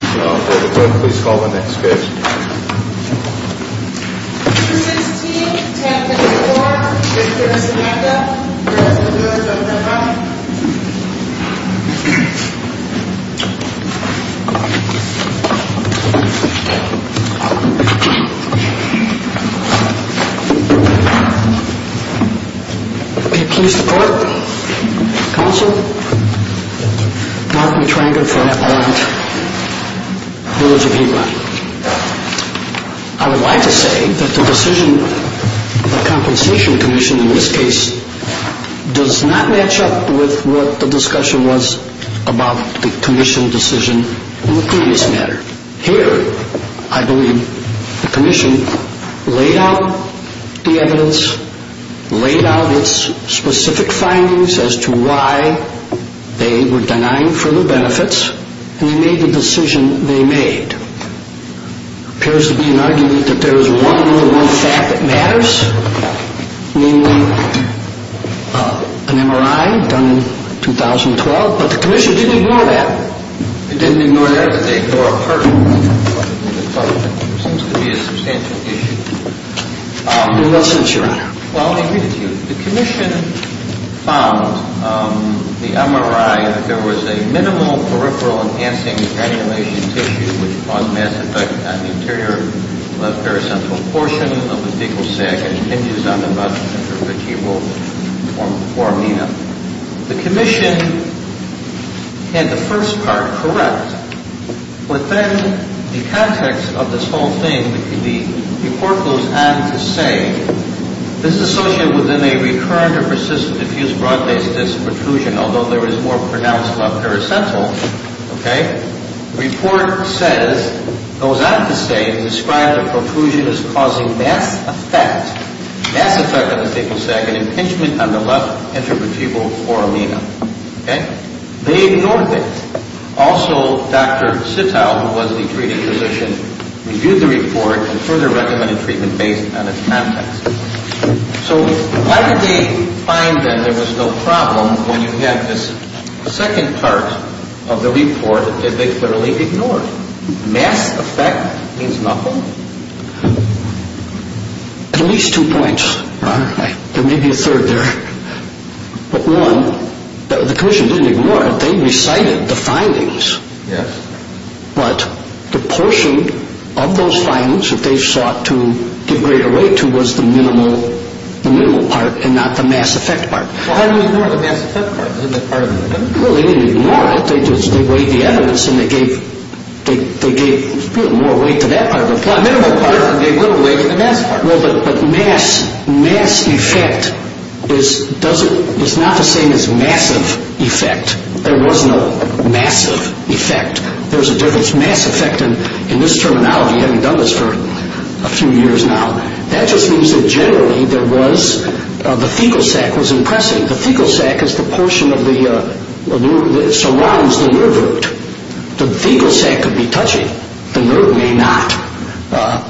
Please call the next case. Number 16, 10-54. Mr. Simeca, you're up. You're up. You're up. Please report. Counsel. Mark McTrynder from Bryant. Village of Hebron. I would like to say that the decision, the compensation commission in this case, does not match up with what the discussion was about the commission decision in the previous matter. Here, I believe the commission laid out the evidence, laid out its specific findings as to why they were denying further benefits, and they made the decision they made. It appears to be an argument that there is one more fact that matters, namely an MRI done in 2012, but the commission didn't ignore that. They didn't ignore that. They ignored a part of it. It seems to be a substantial issue. In what sense, Your Honor? Well, I agree with you. The commission found the MRI, that there was a minimal peripheral enhancing granulation tissue which caused mass effect on the interior left paracentral portion of the fecal sac and hinges on the butt, which you will inform me of. The commission had the first part correct. Within the context of this whole thing, the report goes on to say, this is associated with a recurrent or persistent diffuse broad-based disc protrusion, although there is more pronounced left paracentral. Okay? The report says, goes on to say, described the protrusion as causing mass effect, mass effect on the fecal sac and impingement on the left intervertebral foramina. Okay? They ignored that. Also, Dr. Sitow, who was the treating physician, reviewed the report and further recommended treatment based on its context. So why did they find that there was no problem when you had this second part of the report that they clearly ignored? Mass effect means nothing? At least two points, Your Honor. There may be a third there. But one, the commission didn't ignore it. They recited the findings. Yes. But the portion of those findings that they sought to give greater weight to was the minimal part and not the mass effect part. Well, how do you ignore the mass effect part? Isn't that part of the report? Well, they didn't ignore it. They weighed the evidence and they gave more weight to that part of the report. Well, the minimal part, they gave little weight to the mass part. Well, but mass effect is not the same as massive effect. There wasn't a massive effect. There was a difference. Mass effect, in this terminology, having done this for a few years now, that just means that generally there was the fecal sac was impressive. The fecal sac is the portion that surrounds the nerve root. The fecal sac could be touching. The nerve may not.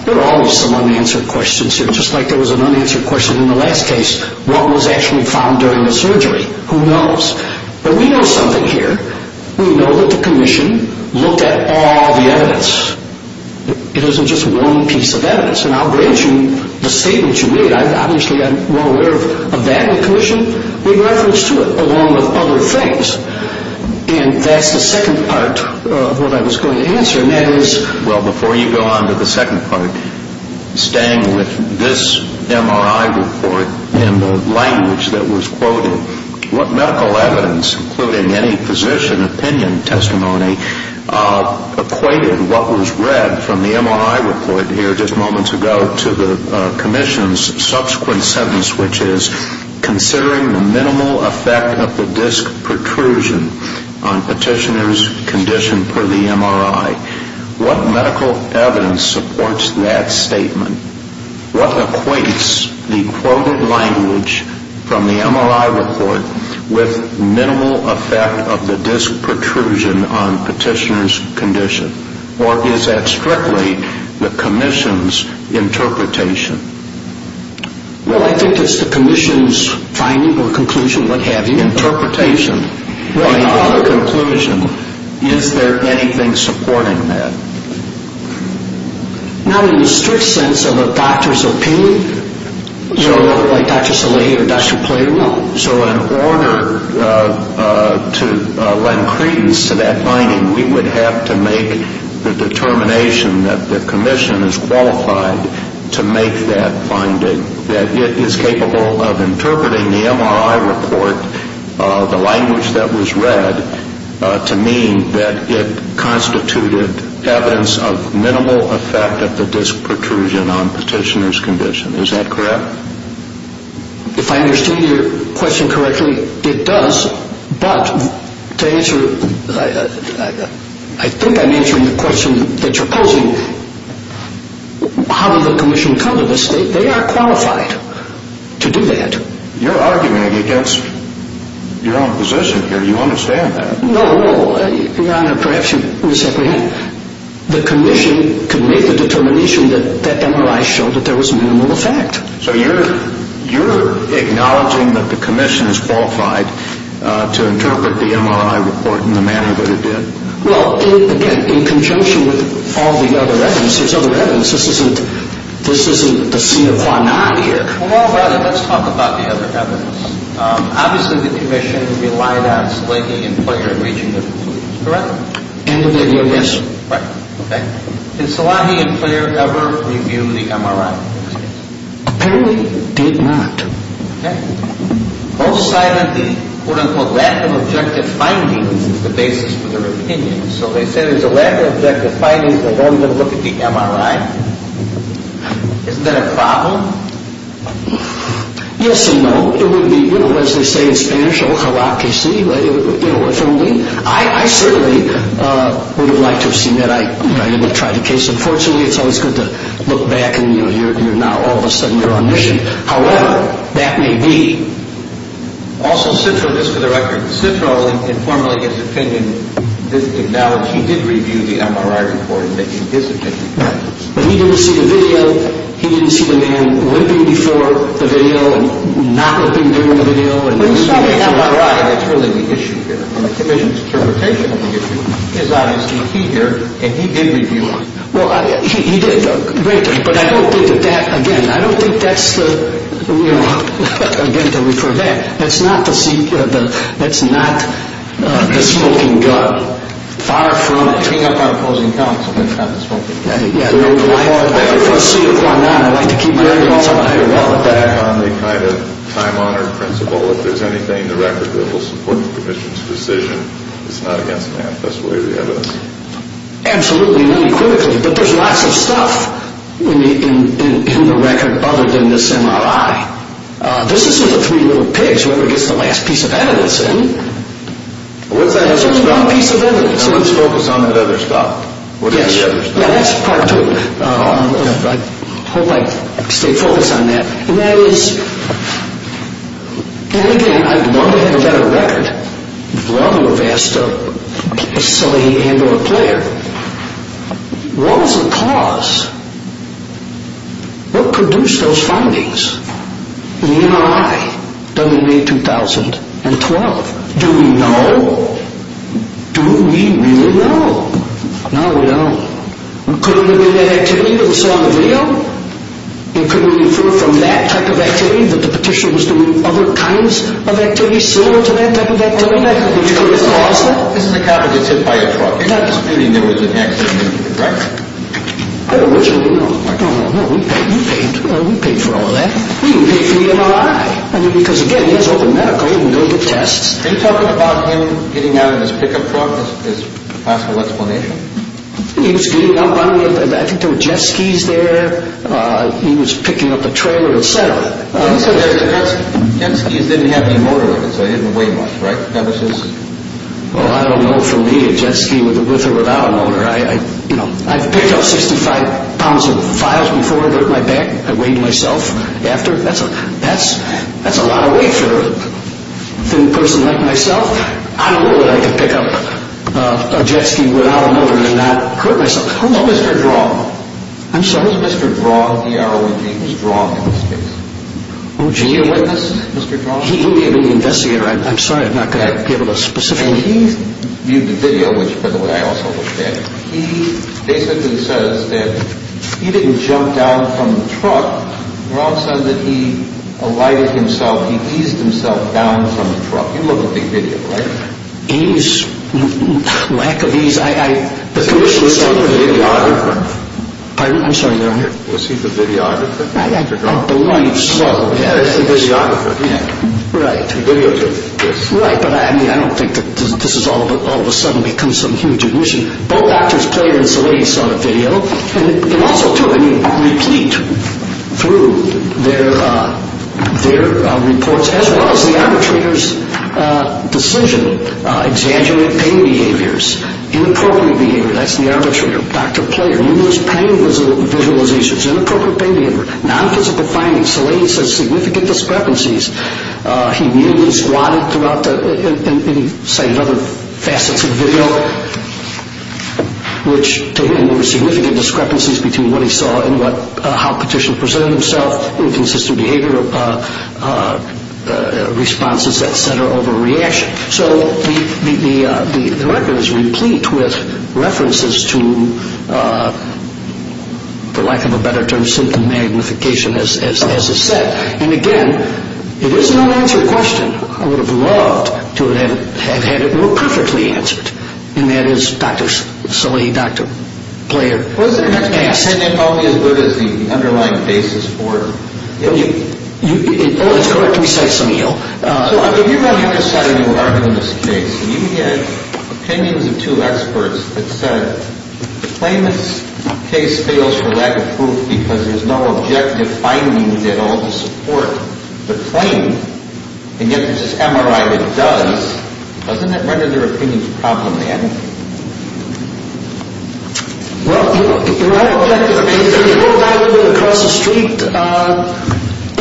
There are always some unanswered questions here, just like there was an unanswered question in the last case. What was actually found during the surgery? Who knows? But we know something here. We know that the commission looked at all the evidence. It isn't just one piece of evidence. And I'll grant you the statement you made. Obviously, I'm more aware of that than the commission. We referenced to it along with other things. And that's the second part of what I was going to answer, and that is – Well, before you go on to the second part, staying with this MRI report and the language that was quoted, what medical evidence, including any physician opinion testimony, equated what was read from the MRI report here just moments ago to the commission's subsequent sentence, which is considering the minimal effect of the disc protrusion on petitioner's condition per the MRI. What medical evidence supports that statement? What equates the quoted language from the MRI report with minimal effect of the disc protrusion on petitioner's condition? Or is that strictly the commission's interpretation? Well, I think it's the commission's finding or conclusion, what have you. Interpretation. Well, in our conclusion, is there anything supporting that? Not in the strict sense of a doctor's opinion, like Dr. Salih or Dr. Poirot, no. So in order to lend credence to that finding, we would have to make the determination that the commission is qualified to make that finding, that it is capable of interpreting the MRI report, the language that was read, to mean that it constituted evidence of minimal effect of the disc protrusion on petitioner's condition. Is that correct? If I understand your question correctly, it does. But to answer, I think I'm answering the question that you're posing, how did the commission come to this? They are qualified to do that. You're arguing against your own position here. You understand that. No. Your Honor, perhaps you misapprehend. The commission could make the determination that that MRI showed that there was minimal effect. So you're acknowledging that the commission is qualified to interpret the MRI report in the manner that it did? Well, again, in conjunction with all the other evidence, there's other evidence. This isn't the scene of Huanan here. Well, let's talk about the other evidence. Obviously, the commission relied on Salahi and Pleyer reaching a conclusion, correct? End of the year, yes, sir. Right. Did Salahi and Pleyer ever review the MRI? Apparently, they did not. Okay. Both cited the, quote-unquote, lack of objective findings as the basis for their opinion. So they said there's a lack of objective findings. They wanted to look at the MRI. Isn't that a problem? Yes and no. It would be, you know, as they say in Spanish, ojalá que sí, you know, if only. I certainly would have liked to have seen that. I didn't try the case. Unfortunately, it's always good to look back and, you know, now all of a sudden you're on mission. However, that may be. Also, Citro, just for the record, Citro informally, in his opinion, acknowledged he did review the MRI report in his opinion. Right. But he didn't see the video. He didn't see the man limping before the video and not limping during the video. Well, he saw the MRI. That's really the issue here. And the Commission's interpretation of the issue is obviously key here, and he did review it. Well, he did. Great. But I don't think that that, again, I don't think that's the, you know, again, to refer to that. That's not the smoking gun. Far from picking up our opposing counsel, that's not the smoking gun. Well, if I could proceed with what I'm now, I'd like to keep my remarks on a higher level. Back on the kind of time-honored principle, if there's anything in the record that will support the Commission's decision, it's not against math. That's the way we have it. Absolutely not. Critically. But there's lots of stuff in the record other than this MRI. This is for the three little pigs. Whoever gets the last piece of evidence in. What's that other stuff? It's only one piece of evidence. Now let's focus on that other stuff. Yes. What's the other stuff? Now, that's part two. I hope I stay focused on that. And that is, and again, I'd want to have a better record. Well, you have asked somebody to handle a player. What was the cause? What produced those findings in the MRI done in May 2012? Do we know? Do we really know? No, we don't. Could it have been that activity that we saw on the video? And could we infer from that type of activity that the Petitioner was doing other kinds of activities similar to that type of activity? This is a copy that's hit by a truck, meaning there was an accident, correct? I don't know. We paid for all of that. We didn't pay for the MRI. I mean, because, again, that's open medical. You can go get tests. Are you talking about him getting out of his pickup truck is a possible explanation? He was getting up. I don't know. I think there were jet skis there. He was picking up a trailer, et cetera. Jet skis didn't have any motor in them, so they didn't weigh much, right? That was his? Well, I don't know. For me, a jet ski with a roll-out motor, I've picked up 65 pounds of files before that hurt my back. I weighed myself after. That's a lot of weight for a thin person like myself. I don't know that I could pick up a jet ski without a motor and not hurt myself. Who's Mr. Draw? I'm sorry? Who's Mr. Draw, D-R-O-W-N-G, who's Draw in this case? Oh, gee. Is he a witness, Mr. Draw? He may have been the investigator. I'm sorry. I'm not going to be able to specifically. He viewed the video, which, by the way, I also understand. He basically says that he didn't jump down from the truck. Draw says that he alighted himself. He eased himself down from the truck. You look at the video, right? Ease? Lack of ease. I, I, the commission saw the video. Was he the videographer? Pardon? I'm sorry. Was he the videographer? I believe so. Yeah, he's the videographer. Right. The videographer. Right, but I mean, I don't think that this has all of a sudden become some huge admission. Both Drs. Pleyer and Salaitis saw the video, and it also took, I mean, repeat through their, their reports, as well as the arbitrator's decision. Exaggerated pain behaviors. Inappropriate behavior. That's the arbitrator. Dr. Pleyer, numerous pain visualizations. Inappropriate pain behavior. Nonphysical findings. Salaitis says significant discrepancies. He kneeled and squatted throughout the, and he cited other facets of the video. Which, to him, were significant discrepancies between what he saw and what, how petitions presented themselves. Inconsistent behavioral responses, et cetera, over reaction. So, the, the, the record is replete with references to, for lack of a better term, symptom magnification, as, as, as is said. And again, it is an unanswered question. I would have loved to have, have had it more perfectly answered. And that is Dr. Salaitis, Dr. Pleyer, has asked. Was it an opinion only as good as the underlying basis for it? It, it, it, oh, that's correct. We cite some of you. So, if you want to have a say in your argument in this case, you can get opinions of two experts that said, the claimant's case fails for lack of proof because there's no objective findings at all to support the claim. And yet there's this MRI that does. Doesn't that render their opinions problematic? Well, you know, the right objective, if you look back a little bit across the street,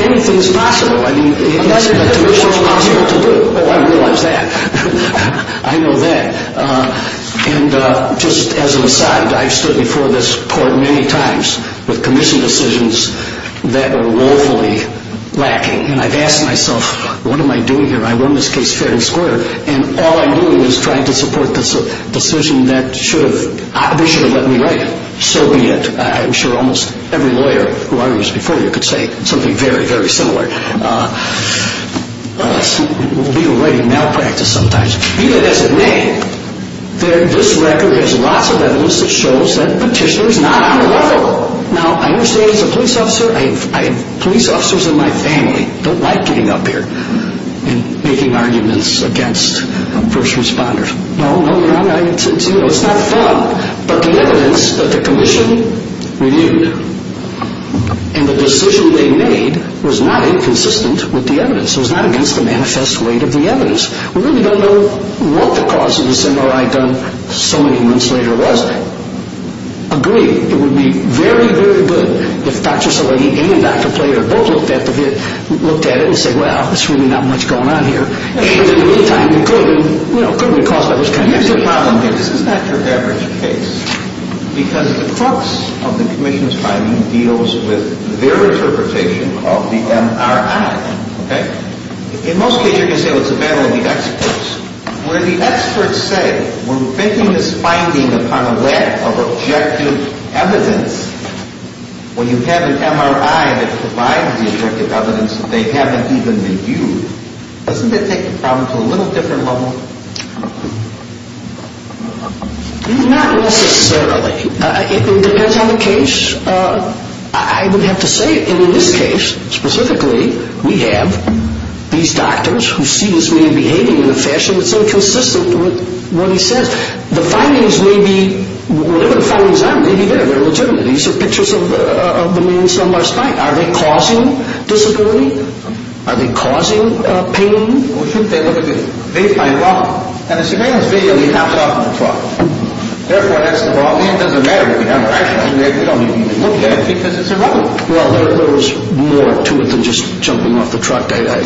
anything's possible. I mean, it hasn't been traditionally possible to do. Oh, I realize that. I know that. And just as an aside, I've stood before this court many times with commission decisions that are woefully lacking. And I've asked myself, what am I doing here? I run this case fair and square. And all I'm doing is trying to support the decision that should have, they should have let me write it. So be it. I'm sure almost every lawyer who I was before you could say something very, very similar. Legal writing malpractice sometimes. Even as a name. This record has lots of evidence that shows that petitioner's not unreliable. Now, I understand he's a police officer. I have police officers in my family. Don't like getting up here and making arguments against first responders. No, no, it's not fun. But the evidence that the commission reviewed and the decision they made was not inconsistent with the evidence. It was not against the manifest weight of the evidence. We really don't know what the cause of the MRI gun so many months later was. I agree. It would be very, very good if Dr. Szilagyi and Dr. Plater both looked at it and said, well, there's really not much going on here. And in the meantime, it could have been a cause that was confusing. This is not your average case. Because the crux of the commission's finding deals with their interpretation of the MRI. In most cases, you're going to say, well, it's a battle of the experts. Where the experts say, we're making this finding upon a lack of objective evidence. When you have an MRI that provides the objective evidence, they haven't even been viewed. Doesn't that take the problem to a little different level? Not necessarily. It depends on the case. I would have to say, in this case, specifically, we have these doctors who see this man behaving in a fashion that's inconsistent with what he says. The findings may be, whatever the findings are, may be there. They're legitimate. These are pictures of the man's lumbar spine. Are they causing disability? Are they causing pain? We think they look at it. They find wrong. And the surveillance video we have is wrong. Therefore, that's the problem. It doesn't matter what we have. We don't need to even look at it because it's irrelevant. Well, there's more to it than just jumping off the truck. I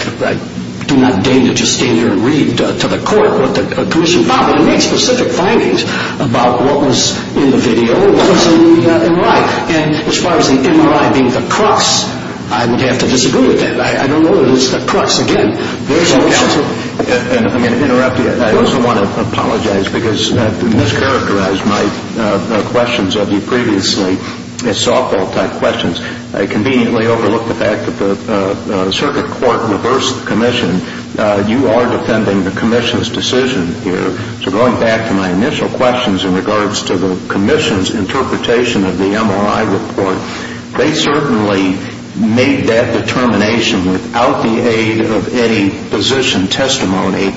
do not deign to just stand here and read to the court what the commission found. They made specific findings about what was in the video and what was in the MRI. And as far as the MRI being the crux, I would have to disagree with that. I don't know that it's the crux again. I'm going to interrupt you. I also want to apologize because I mischaracterized my questions of you previously as softball-type questions. I conveniently overlooked the fact that the circuit court reversed the commission. You are defending the commission's decision here. So going back to my initial questions in regards to the commission's interpretation of the MRI report, they certainly made that determination without the aid of any physician testimony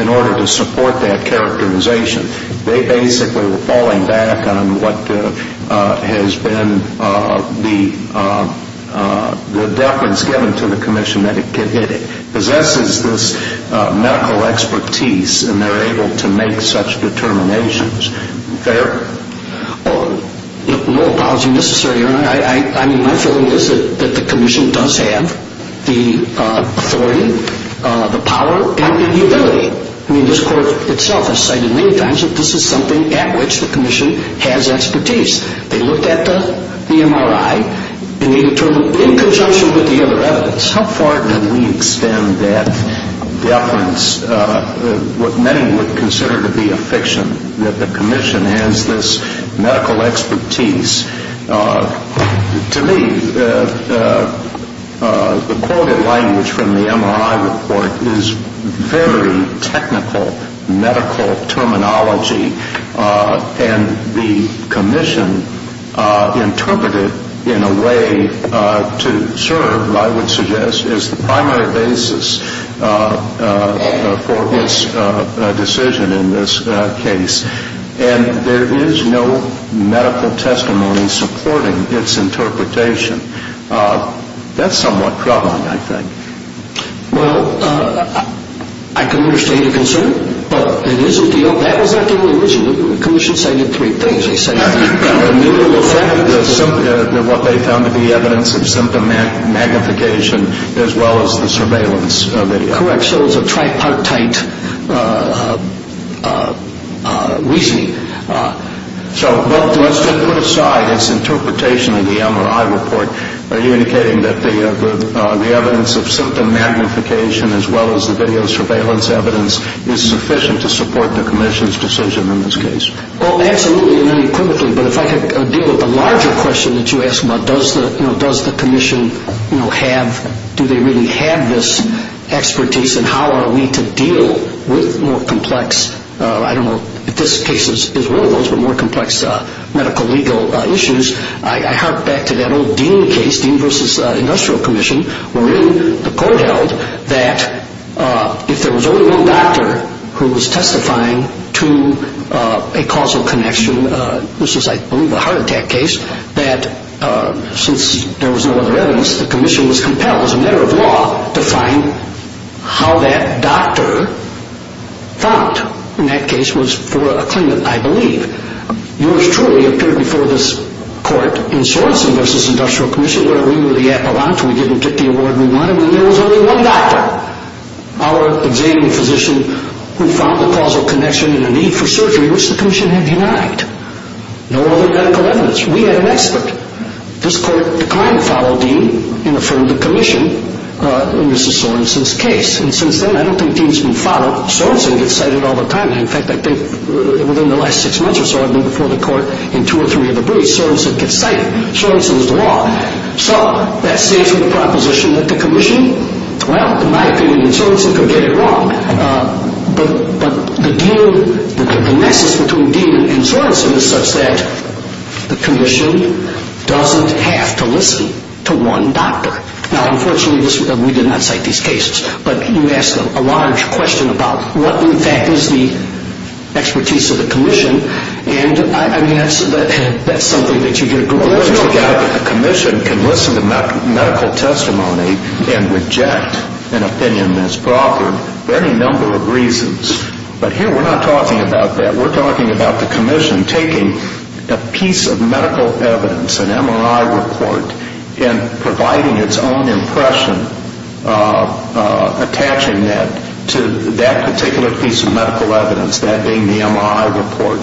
in order to support that characterization. They basically were falling back on what has been the deference given to the commission that it possesses this medical expertise and they're able to make such determinations. Fair? No apology necessary, Your Honor. My feeling is that the commission does have the authority, the power, and the ability. I mean, this court itself has cited many times that this is something at which the commission has expertise. They looked at the MRI and made a determination in conjunction with the other evidence. How far can we extend that deference, what many would consider to be a fiction, that the commission has this medical expertise? To me, the quoted language from the MRI report is very technical medical terminology, and the commission interpreted it in a way to serve, I would suggest, as the primary basis for its decision in this case. And there is no medical testimony supporting its interpretation. That's somewhat troubling, I think. Well, I can understand your concern, but it is a deal. That was not the only reason. The commission cited three things. They cited the neural effect. What they found to be evidence of symptom magnification as well as the surveillance video. Correct. So it was a tripartite reasoning. So let's just put aside its interpretation of the MRI report. Are you indicating that the evidence of symptom magnification as well as the video surveillance evidence is sufficient to support the commission's decision in this case? Well, absolutely and unequivocally. But if I could deal with the larger question that you asked about, does the commission have, do they really have this expertise, and how are we to deal with more complex, I don't know if this case is one of those, but more complex medical legal issues, I hark back to that old Dean case, Dean v. Industrial Commission, wherein the court held that if there was only one doctor who was testifying to a causal connection, this was, I believe, a heart attack case, that since there was no other evidence, the commission was compelled as a matter of law to find how that doctor thought. And that case was for a claimant, I believe. Yours truly appeared before this court in Sorensen v. Industrial Commission, where we were the appellant, we didn't get the award we wanted, and there was only one doctor, our examining physician, who found the causal connection in a need for surgery, which the commission had denied. No other medical evidence. We had an expert. This court declined to follow Dean and affirmed the commission in Mr. Sorensen's case. And since then, I don't think Dean's been followed. Sorensen gets cited all the time. In fact, I think within the last six months or so, I've been before the court in two or three of the briefs, Sorensen gets cited. Sorensen's wrong. So that stays with the proposition that the commission, well, in my opinion, and Sorensen could get it wrong. But the deal, the nexus between Dean and Sorensen is such that the commission doesn't have to listen to one doctor. Now, unfortunately, we did not cite these cases. But you asked a large question about what, in fact, is the expertise of the commission. And, I mean, that's something that you get a good look at. The commission can listen to medical testimony and reject an opinion misproffered for any number of reasons. But here we're not talking about that. We're talking about the commission taking a piece of medical evidence, an MRI report, and providing its own impression, attaching that to that particular piece of medical evidence, that being the MRI report.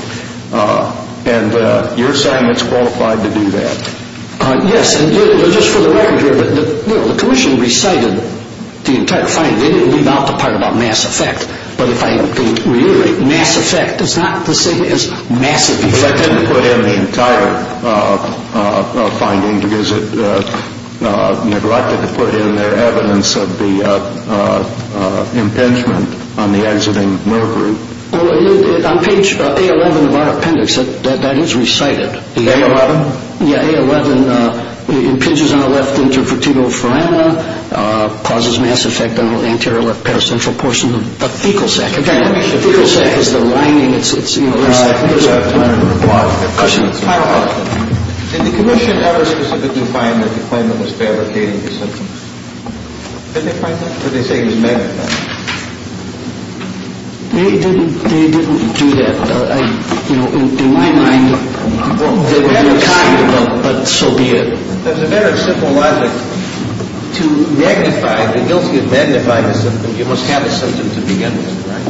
And you're saying it's qualified to do that? Yes. And just for the record here, the commission recited the entire finding. They didn't leave out the part about mass effect. But if I reiterate, mass effect is not the same as massive effect. They put in the entire finding because it neglected to put in their evidence of the impingement on the exiting nerve group. Well, on page A11 of our appendix, that is recited. The A11? Yeah, A11. Impinges on the left intervertebral foramen. Causes mass effect on the anterior left paracentral portion of the fecal sac. Again, the fecal sac is the lining. It's, you know, the sac. Final question. Did the commission ever specifically find that the claimant was fabricating his symptoms? Did they find that? Or did they say he was manic? They didn't do that. You know, in my mind, they were being kind, but so be it. That's a very simple logic. To magnify the guilty of magnifying a symptom, you must have a symptom to begin with, right?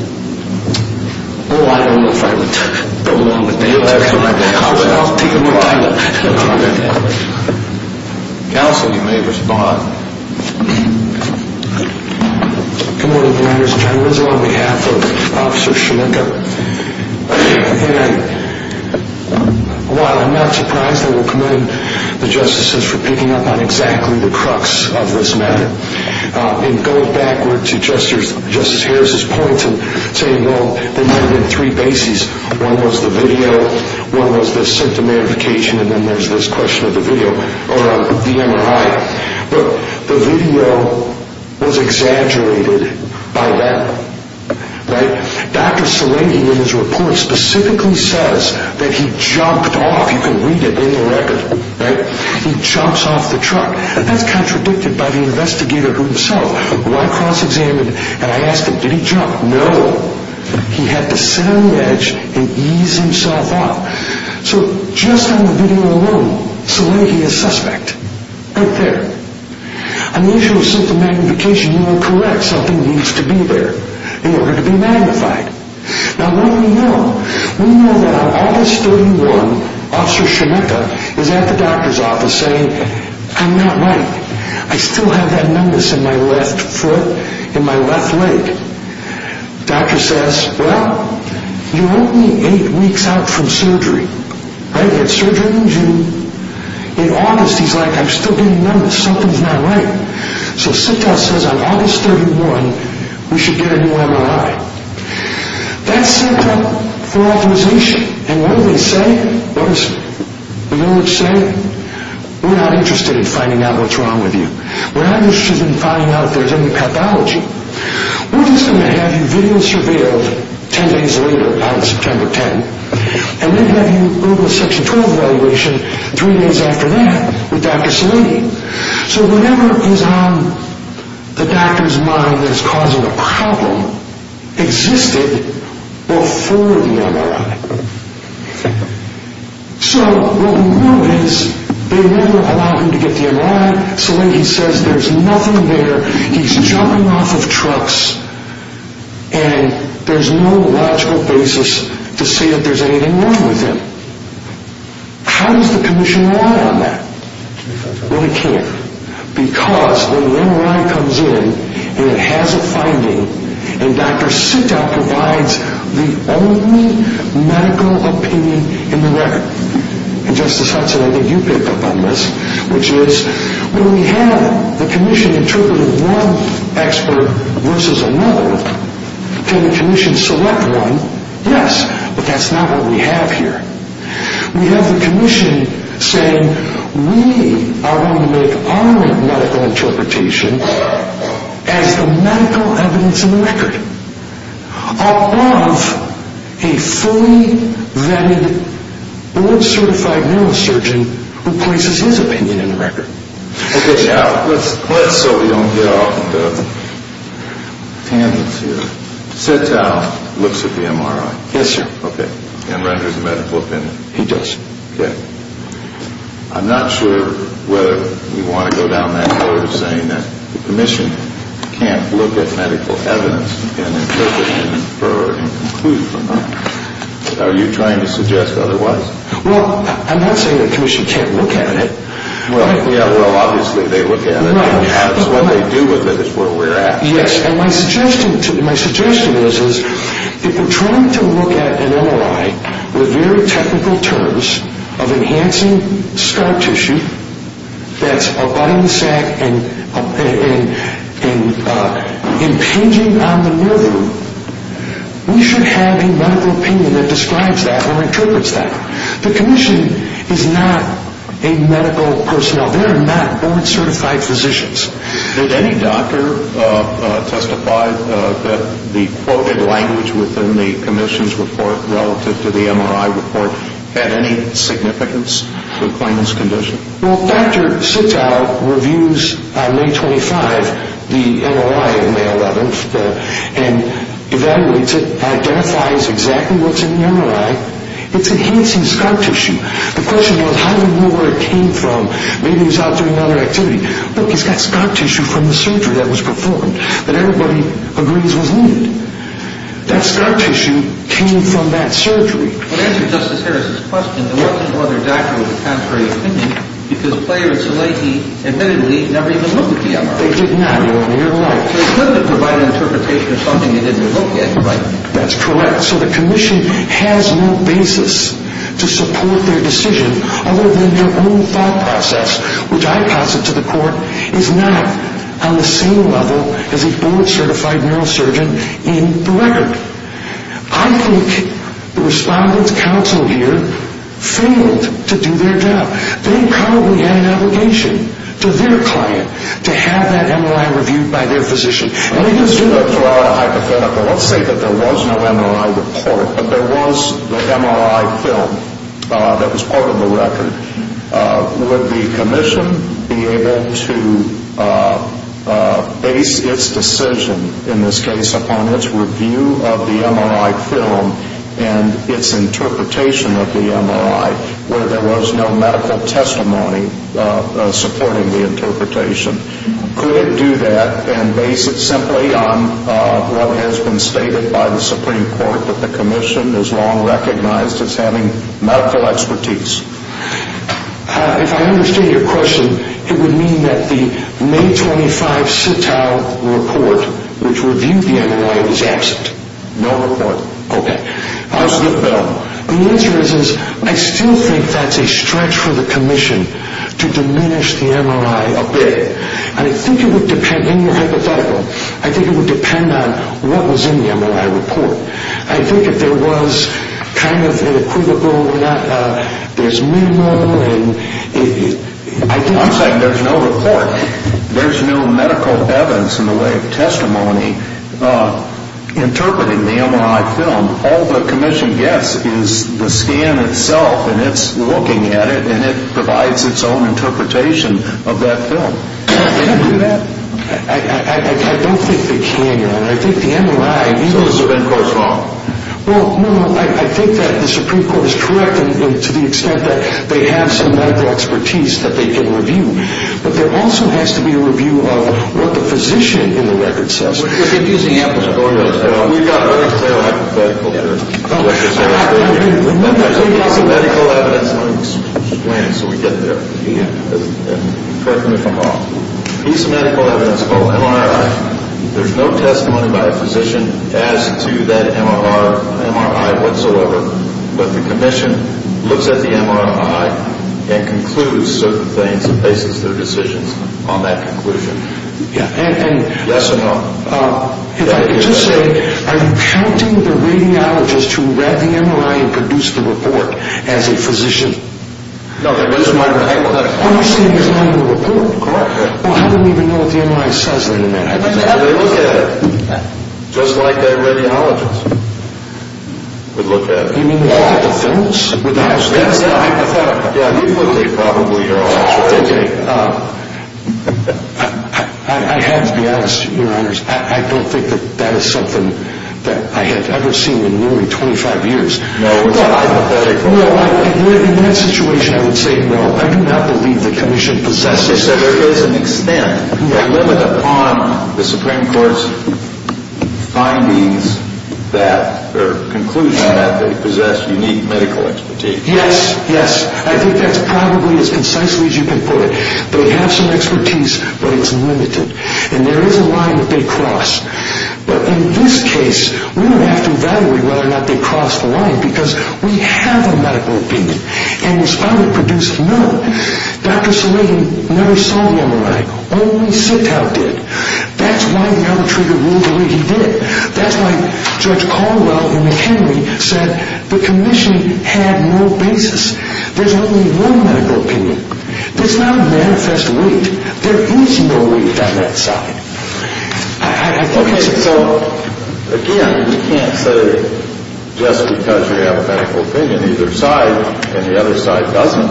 Oh, I don't know if I would go along with that. I'll take a look at that. Counsel, you may respond. Good morning, ladies and gentlemen. This is on behalf of Officer Sheminka. And while I'm not surprised, I will commend the justices for picking up on exactly the crux of this matter. And going backward to Justice Harris's point and saying, well, there may have been three bases. One was the video, one was the symptom verification, and then there's this question of the video or the MRI. Look, the video was exaggerated by them, right? Dr. Salehi, in his report, specifically says that he jumped off. You can read it in the record, right? He jumps off the truck. That's contradicted by the investigator himself. When I cross-examined him and I asked him, did he jump? No. He had to sit on the edge and ease himself up. So just on the video alone, Salehi is suspect. Right there. On the issue of symptom magnification, you are correct. Something needs to be there in order to be magnified. Now, what do we know? We know that on August 31, Officer Sheminka is at the doctor's office saying, I'm not right. I still have that numbness in my left foot, in my left leg. Doctor says, well, you're only eight weeks out from surgery. Right? He had surgery in June. In August, he's like, I'm still getting numbness. Something's not right. So SIT-TEL says on August 31, we should get a new MRI. That's SIT-TEL for authorization. And what do they say? You know what they say? We're not interested in finding out what's wrong with you. We're not interested in finding out if there's any pathology. We're just going to have you video surveilled ten days later on September 10. And then have you go to a Section 12 evaluation three days after that with Dr. Salehi. So whatever is on the doctor's mind that's causing a problem existed before the MRI. So what we know is they never allow him to get the MRI. Salehi says there's nothing there. He's jumping off of trucks. And there's no logical basis to say that there's anything wrong with him. How does the commission rely on that? Well, it can't. Because when the MRI comes in and it has a finding, and Dr. SIT-TEL provides the only medical opinion in the record, and Justice Hudson, I think you pick up on this, which is when we have the commission interpreting one expert versus another, can the commission select one? Yes, but that's not what we have here. We have the commission saying we are going to make our medical interpretation as the medical evidence in the record above a fully-vetted, blood-certified neurosurgeon who places his opinion in the record. Okay. Let's, so we don't get off into tangents here, SIT-TEL looks at the MRI. Yes, sir. Okay. And renders a medical opinion. He does, sir. I'm not sure whether we want to go down that road of saying that the commission can't look at medical evidence and interpret and infer and conclude from that. Are you trying to suggest otherwise? Well, I'm not saying the commission can't look at it. Well, yeah, well, obviously they look at it. What they do with it is where we're at. Yes, and my suggestion is, if you're trying to look at an MRI with very technical terms of enhancing scar tissue that's abutting the sac and impinging on the nerve room, we should have a medical opinion that describes that or interprets that. The commission is not a medical personnel. They are not board-certified physicians. Did any doctor testify that the quoted language within the commission's report relative to the MRI report had any significance to the claimant's condition? Well, a doctor sits out, reviews on May 25 the MRI on May 11th, and evaluates it, identifies exactly what's in the MRI. It's enhancing scar tissue. The question was, how do we know where it came from? Maybe he was out doing another activity. Look, he's got scar tissue from the surgery that was performed that everybody agrees was needed. That scar tissue came from that surgery. To answer Justice Harris's question, there wasn't another doctor with a contrary opinion because Player and Szilagyi admittedly never even looked at the MRI. They did not. They couldn't provide an interpretation of something they didn't look at. That's correct. So the commission has no basis to support their decision other than their own thought process, which I pass it to the court, is not on the same level as a board-certified neurosurgeon in the record. I think the respondents counseled here failed to do their job. They probably had an obligation to their client to have that MRI reviewed by their physician. Let me just draw a hypothetical. Let's say that there was no MRI report, but there was the MRI film that was part of the record. Would the commission be able to base its decision, in this case, upon its review of the MRI film and its interpretation of the MRI, where there was no medical testimony supporting the interpretation? Could it do that and base it simply on what has been stated by the Supreme Court that the commission has long recognized as having medical expertise? If I understand your question, it would mean that the May 25 Sitow report, which reviewed the MRI, was absent. No report. Okay. I'll skip that one. The answer is, I still think that's a stretch for the commission to diminish the MRI a bit. And I think it would depend, in your hypothetical, I think it would depend on what was in the MRI report. I think if there was kind of an equivocal, there's minimal. I'm saying there's no report. There's no medical evidence in the way of testimony interpreting the MRI film. All the commission gets is the scan itself, and it's looking at it, and it provides its own interpretation of that film. Can it do that? I don't think they can, Your Honor. I think the MRI. So those have been close by. Well, no, no, I think that the Supreme Court is correct to the extent that they have some medical expertise that they can review, but there also has to be a review of what the physician in the record says. We've got very clear hypothetical here. Remember, there's a piece of medical evidence. Let me explain it so we get there. Correct me if I'm wrong. There's a piece of medical evidence called MRI. There's no testimony by a physician as to that MRI whatsoever, but the commission looks at the MRI and concludes certain things and bases their decisions on that conclusion. Yes or no? If I could just say, are you counting the radiologist who read the MRI and produced the report as a physician? No, that was my question. Are you saying he's not in the report? Correct. Well, how do we even know what the MRI says, then, in that hypothetical? They look at it just like their radiologist would look at it. You mean they look at the films? That's the hypothetical. Yeah, he would be probably your audiologist. Okay. I have to be honest, Your Honors, I don't think that that is something that I have ever seen in nearly 25 years. No, it's a hypothetical. In that situation, I would say no. I do not believe the commission possesses it. They said there is an extent, limited upon the Supreme Court's findings that, or conclusion that they possess unique medical expertise. Yes, yes. I think that's probably as concisely as you can put it. They have some expertise, but it's limited. And there is a line that they cross. But in this case, we don't have to evaluate whether or not they cross the line because we have a medical opinion. Okay, so, again, you can't say just because you have a medical opinion either side and the other side doesn't,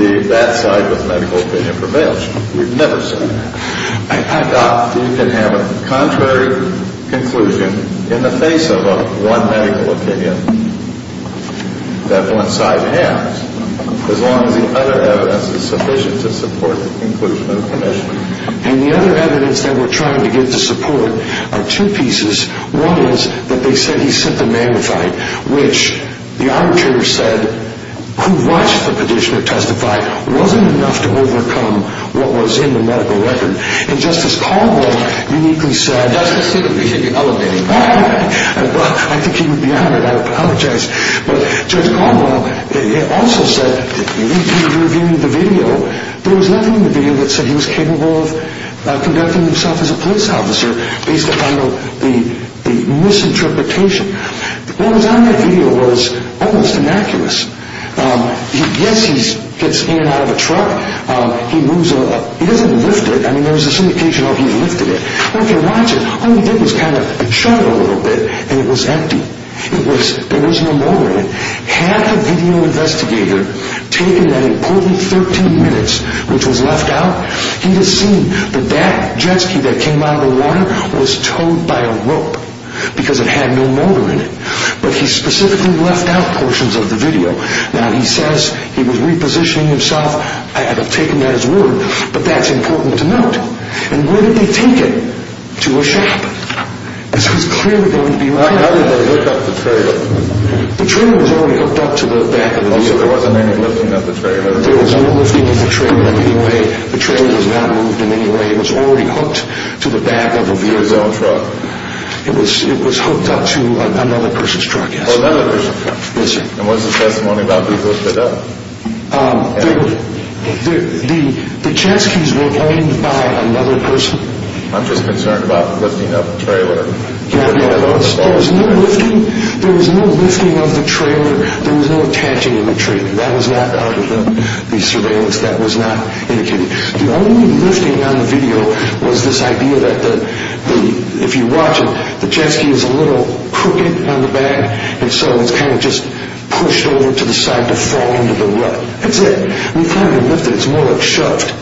that that side with medical opinion prevails. We've never said that. You can have a contrary conclusion in the face of one medical opinion that one side has, as long as the other evidence is sufficient to support the conclusion of the commission. And the other evidence that we're trying to get to support are two pieces. One is that they said he's symptom-magnified, which the arbitrator said, who watched the petitioner testify, wasn't enough to overcome what was in the medical record. And Justice Caldwell uniquely said- Justice, you're elevating me. I think he would be honored. I apologize. But Judge Caldwell also said, he reviewed the video, there was nothing in the video that said he was capable of conducting himself as a police officer based upon the misinterpretation. What was on that video was almost innocuous. Yes, he gets in and out of a truck. He doesn't lift it. I mean, there was some indication that he lifted it. But if you watch it, all he did was kind of chug a little bit and it was empty. There was no motor in it. Had the video investigator taken that important 13 minutes, which was left out, he would have seen that that jet ski that came out of the water was towed by a rope because it had no motor in it. But he specifically left out portions of the video. Now, he says he was repositioning himself. I have taken that as word, but that's important to note. And where did they take it? To a shop. This was clearly going to be- How did they hook up the trailer? The trailer was already hooked up to the back of a vehicle. So there wasn't any lifting of the trailer? There was no lifting of the trailer in any way. The trailer was not moved in any way. It was already hooked to the back of a vehicle. It was hooked up to another person's truck. Another person's truck? Yes, sir. And what's the testimony about being lifted up? The jet skis were owned by another person. I'm just concerned about lifting up the trailer. There was no lifting of the trailer. There was no attaching of the trailer. That was not out of the surveillance. That was not indicated. The only lifting on the video was this idea that if you watch it, the jet ski is a little crooked on the back, and so it's kind of just pushed over to the side to fall into the rut. That's it. We've had it lifted. It's more like shoved.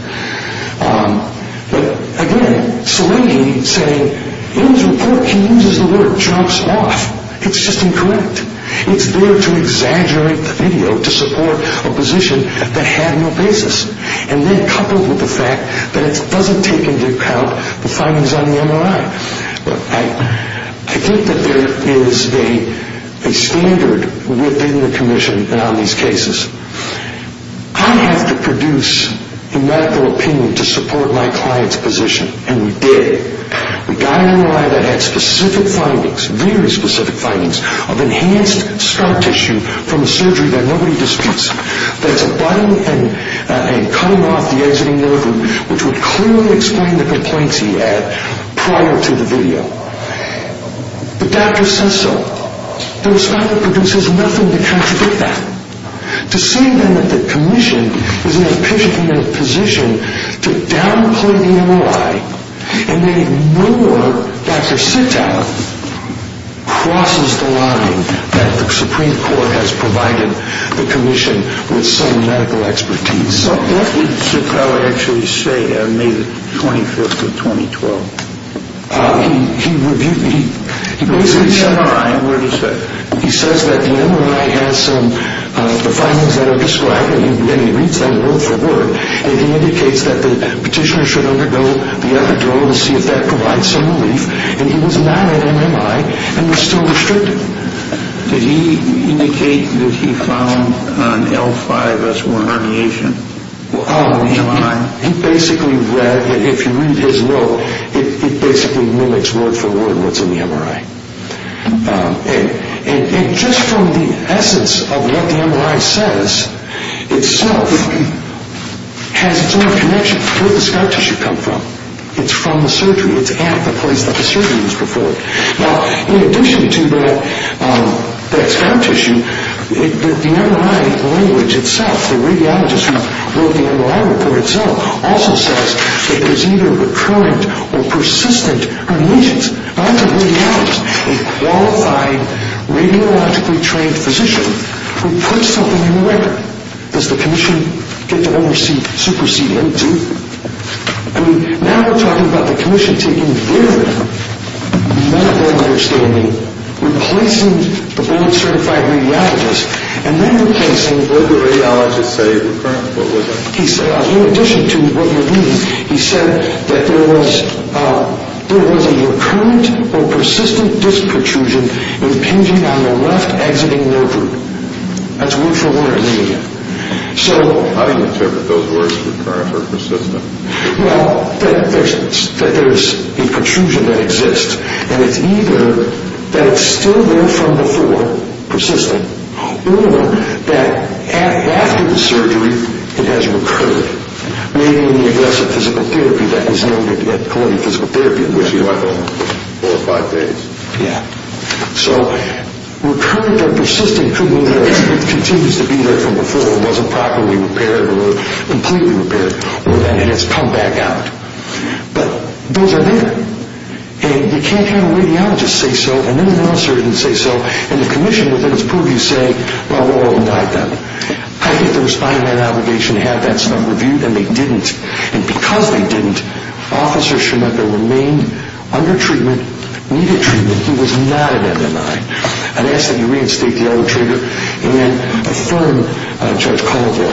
But, again, Seligy saying, in his report, he uses the word jumps off. It's just incorrect. It's there to exaggerate the video to support a position that had no basis. And then coupled with the fact that it doesn't take into account the findings on the MRI. I think that there is a standard within the commission on these cases. I have to produce a medical opinion to support my client's position, and we did. We got an MRI that had specific findings, very specific findings, of enhanced scar tissue from a surgery that nobody disputes, that's abutting and cutting off the exiting nerve which would clearly explain the complaints he had prior to the video. The doctor says so. There was nothing to contradict that. To say then that the commission is in a position to downplay the MRI and then ignore Dr. Sitow crosses the line that the Supreme Court has provided the commission with some medical expertise. What did Sitow actually say on May 25th of 2012? He reviewed the MRI. He says that the MRI has some the findings that are described and he reads them word for word and he indicates that the petitioner should undergo the epidural to see if that provides some relief and he was not at MMI and was still restricted. Did he indicate that he found an L5S1 herniation in the MRI? He basically read, if you read his note, it basically mimics word for word what's in the MRI. And just from the essence of what the MRI says itself has its own connection to where the scar tissue comes from. It's from the surgery. It's at the place that the surgery was performed. Now, in addition to that scar tissue, the MRI language itself, the radiologist who wrote the MRI report itself also says that there's either recurrent or persistent herniations. Now, that's a radiologist, a qualified, radiologically trained physician who put something in the record. Does the commission get to oversee, supersede him too? Now we're talking about the commission taking their medical understanding, replacing the board-certified radiologist, and then replacing... Did the radiologist say recurrent? What was that? In addition to what you're reading, he said that there was a recurrent or persistent disc protrusion impinging on the left exiting nerve root. That's word for word. How do you interpret those words, recurrent or persistent? Well, that there's a protrusion that exists. And it's either that it's still there from before, persistent, or that after the surgery, it has recurred. Maybe in the aggressive physical therapy that is noted at Columbia Physical Therapy in which you are going, four or five days. Yeah. So recurrent or persistent could mean that it continues to be there from before and wasn't properly repaired or completely repaired, or that it has come back out. But those are there. And you can't have a radiologist say so and then an officer didn't say so, and the commission, within its purview, say, well, we'll indict them. I think there was fine man obligation to have that stuff reviewed, and they didn't. And because they didn't, officers should have remained under treatment, needed treatment. He was not an MMI. I'd ask that you reinstate the other trigger and then affirm Judge Collivoy.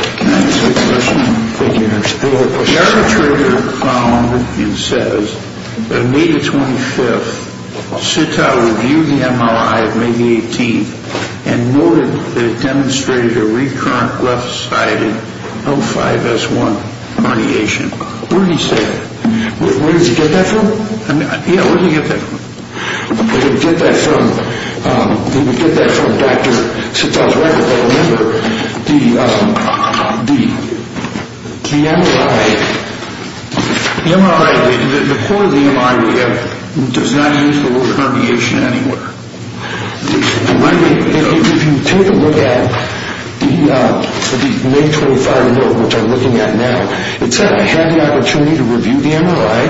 Thank you. Any other questions? The other trigger, it says that May the 25th, Sitow reviewed the MRI of May the 18th and noted that it demonstrated a recurrent left-sided O5S1 herniation. Where did he say that? Where did you get that from? Yeah, where did he get that from? He would get that from Dr. Sitow's record. Remember, the MRI, the core of the MRI does not use the word herniation anywhere. If you take a look at the May 25 note, which I'm looking at now, it said I had the opportunity to review the MRI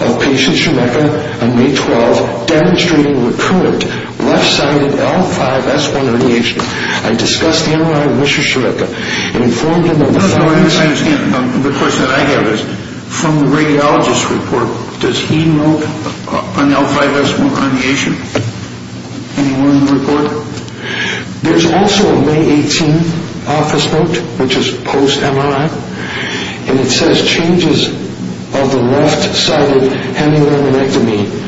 of patient Shemeika on May 12th demonstrating recurrent left-sided L5S1 herniation. I discussed the MRI with Mr. Shemeika and informed him of the findings... No, no, I understand. The question that I have is, from the radiologist's report, does he note an L5S1 herniation anywhere in the report? There's also a May 18 office note, which is post-MRI, and it says changes of the left-sided hemiluminectomy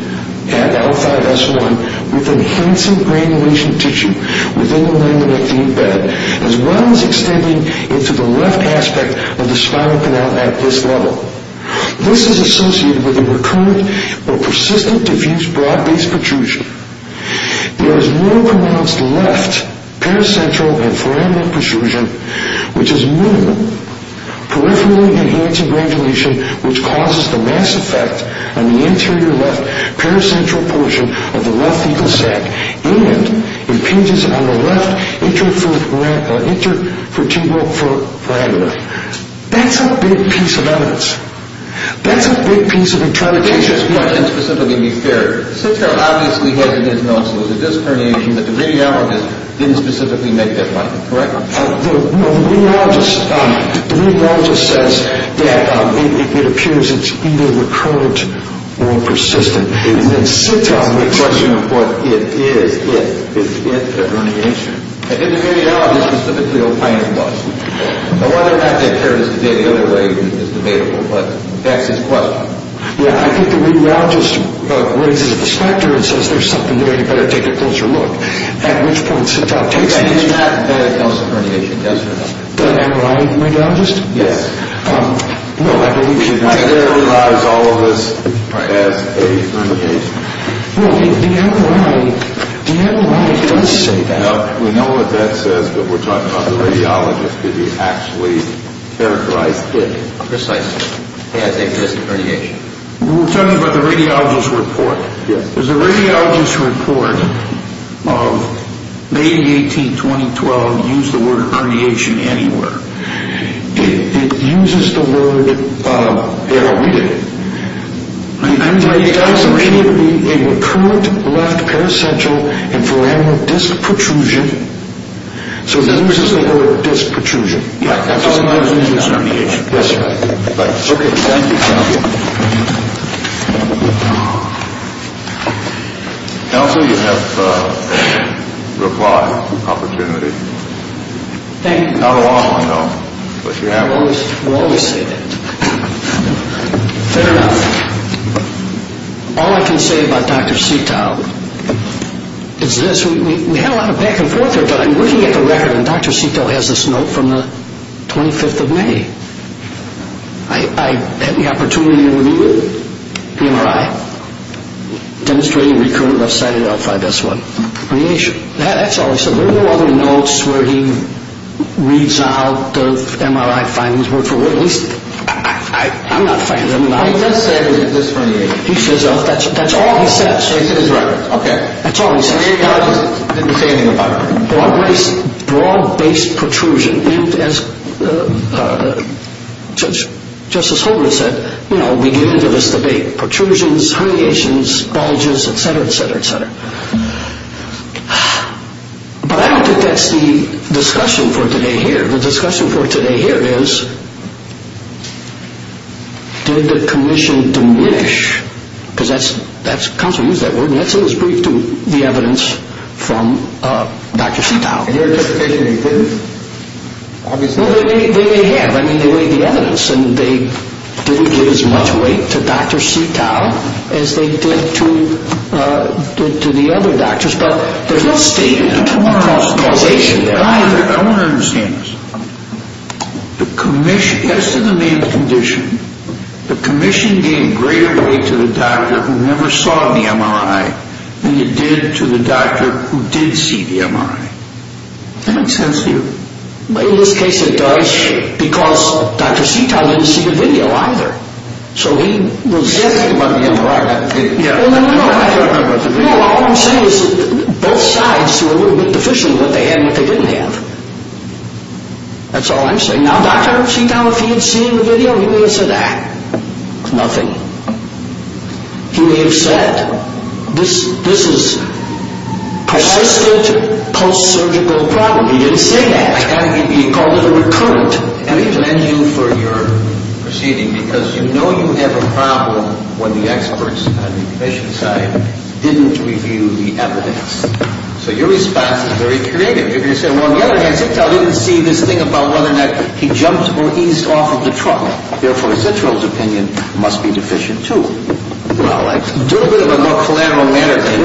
at L5S1 with enhancing granulation tissue within the luminectomy bed, as well as extending into the left aspect of the spinal canal at this level. This is associated with a recurrent or persistent diffuse blood-based protrusion. There is no pronounced left paracentral and foraminal protrusion, which is minimal. Peripherally enhancing granulation, which causes the mass effect on the anterior left paracentral portion of the left fecal sac and impinges on the left intervertebral foramina. That's a big piece of evidence. That's a big piece of interpretation. Let me ask you a question specifically to be fair. Sitka obviously has it in his notes that there's a disc herniation, but the radiologist didn't specifically make that point. Correct? The radiologist says that it appears it's either recurrent or persistent. The question of what it is, is it a herniation? I think the radiologist specifically opined it was. Now whether or not that occurs today in any other way is debatable, but that's his question. Yeah, I think the radiologist raises the specter and says there's something there you better take a closer look, at which point Sitka takes the initiative. He does not diagnose a herniation. Does not. Am I right, radiologist? Yes. No, I believe he's not. He doesn't generalize all of this as a herniation. Well, the NRA does say that. We know what that says, but we're talking about the radiologist. Did he actually characterize it precisely as a persistent herniation? We're talking about the radiologist's report. Does the radiologist's report of May 18, 2012 use the word herniation anywhere? It uses the word herniated. It used herniated to be a recurrent left paracentral and foraminal disc protrusion. So it uses the word disc protrusion. Yeah, that's all it does is use herniation. Yes, sir. Thanks. Okay, thank you, counsel. Counsel, you have a reply opportunity. Thank you. Not a long one, though, but you're happy. We always say that. Fair enough. All I can say about Dr. Setow is this. We had a lot of back and forth here, but I'm looking at the record, and Dr. Setow has this note from the 25th of May. I had the opportunity to review it, the MRI, demonstrating recurrent left-sided alpha S1 herniation. That's all. So there are no other notes where he reads out the MRI findings. I'm not a fan of the MRI. He does say that it's disc herniation. He says that's all he says. He says it's recurrent. Okay. That's all he says. The radiologist didn't say anything about it. Broad-based protrusion. As Justice Holdren said, you know, we get into this debate. Protrusions, herniations, bulges, et cetera, et cetera, et cetera. But I don't think that's the discussion for today here. The discussion for today here is did the commission diminish, because that's, counsel used that word, and that's in his brief too, the evidence from Dr. Setow. And their justification, he didn't? I mean, they weighed the evidence, and they didn't give as much weight to Dr. Setow as they did to the other doctors. But there's no statement of causation there. I want to understand this. The commission, as to the man's condition, the commission gave greater weight to the doctor who never saw the MRI than you did to the doctor who did see the MRI. That make sense to you? In this case, it does, because Dr. Setow didn't see the video either. So he was? He did see the MRI. I don't know about the video. No, what I'm saying is that both sides were a little bit deficient in what they had and what they didn't have. That's all I'm saying. Now, Dr. Setow, if he had seen the video, he may have said, ah, nothing. He may have said, this is persistent post-surgical problem. No, he didn't say that. He called it recurrent. Let me blame you for your proceeding, because you know you have a problem when the experts on the commission side didn't review the evidence. So your response is very creative. If you said, well, on the other hand, Setow didn't see this thing about whether or not he jumped or eased off of the truck. Therefore, Citroen's opinion must be deficient too. Well, do a bit of a more collateral matter thing.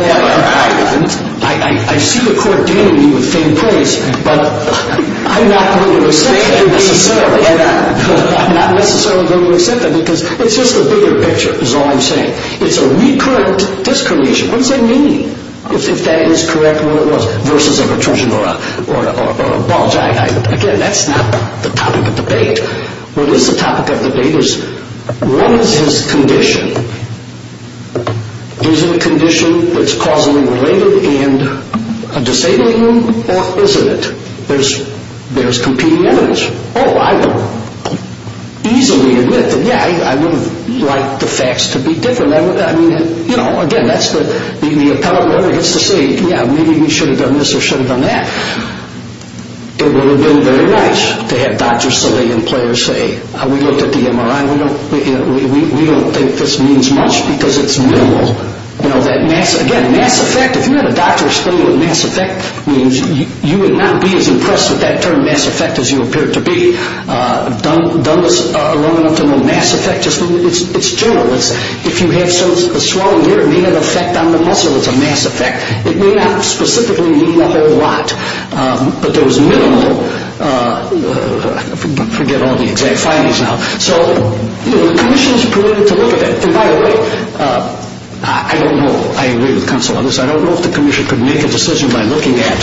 I see the court dealing me with faint plays, but I'm not going to accept that necessarily. I'm not necessarily going to accept that, because it's just a bigger picture is all I'm saying. It's a recurrent discretion. What does that mean if that is correct and what it was versus a protrusion or a bulge? Again, that's not the topic of debate. What is the topic of debate is what is his condition? Is it a condition that's causally related and a disabling one, or isn't it? There's competing evidence. Oh, I would easily admit that, yeah, I would have liked the facts to be different. I mean, you know, again, that's the appellate lawyer gets to say, yeah, maybe we should have done this or should have done that. It would have been very nice to have Dr. Saleh and players say, we looked at the MRI. We don't think this means much because it's minimal. You know, again, mass effect, if you had a doctor explain what mass effect means, you would not be as impressed with that term, mass effect, as you appear to be. I've done this long enough to know mass effect. It's general. If you have a swollen ear, it may have an effect on the muscle. It's a mass effect. It may not specifically mean a whole lot, but there was minimal. Forget all the exact findings now. So the commission is permitted to look at it. And by the way, I don't know, I agree with counsel on this, I don't know if the commission could make a decision by looking at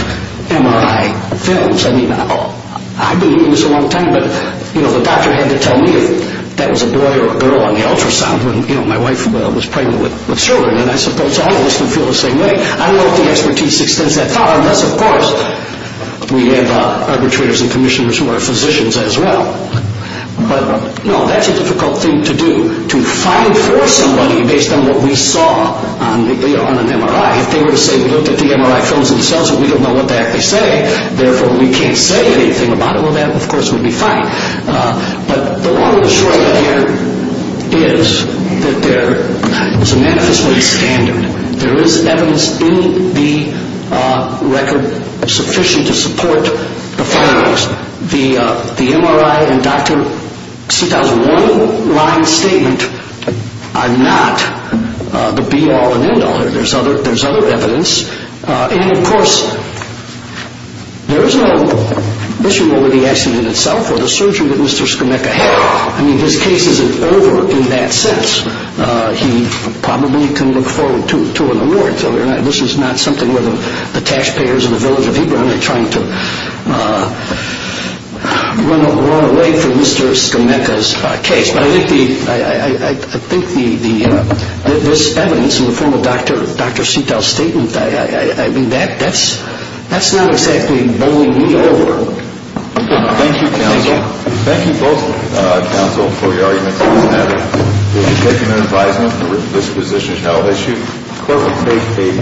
MRI films. I mean, I've been doing this a long time, but, you know, the doctor had to tell me if that was a boy or a girl on the ultrasound when, you know, my wife was pregnant with children, and I suppose all of us can feel the same way. I don't know if the expertise extends that far unless, of course, we have arbitrators and commissioners who are physicians as well. But, no, that's a difficult thing to do, to find for somebody based on what we saw on an MRI. If they were to say we looked at the MRI films themselves and we don't know what the heck they say, therefore we can't say anything about it, well, that, of course, would be fine. But the long and the short of it here is that there is a manifestly standard. There is evidence in the record sufficient to support the findings. Of course, the MRI and Dr. Sitow's one-line statement are not the be-all and end-all. There's other evidence. And, of course, there is no issue over the accident itself or the surgery that Mr. Skonecka had. I mean, his case isn't over in that sense. He probably can look forward to it more. This is not something where the cash payers in the village of Hebrew are trying to run away from Mr. Skonecka's case. But I think this evidence in the form of Dr. Sitow's statement, I mean, that's not exactly bowling me over. Thank you, counsel. Thank you both, counsel, for your arguments on this matter. We'll be taking an advisement. This position is now issued. The clerk will take a brief recess.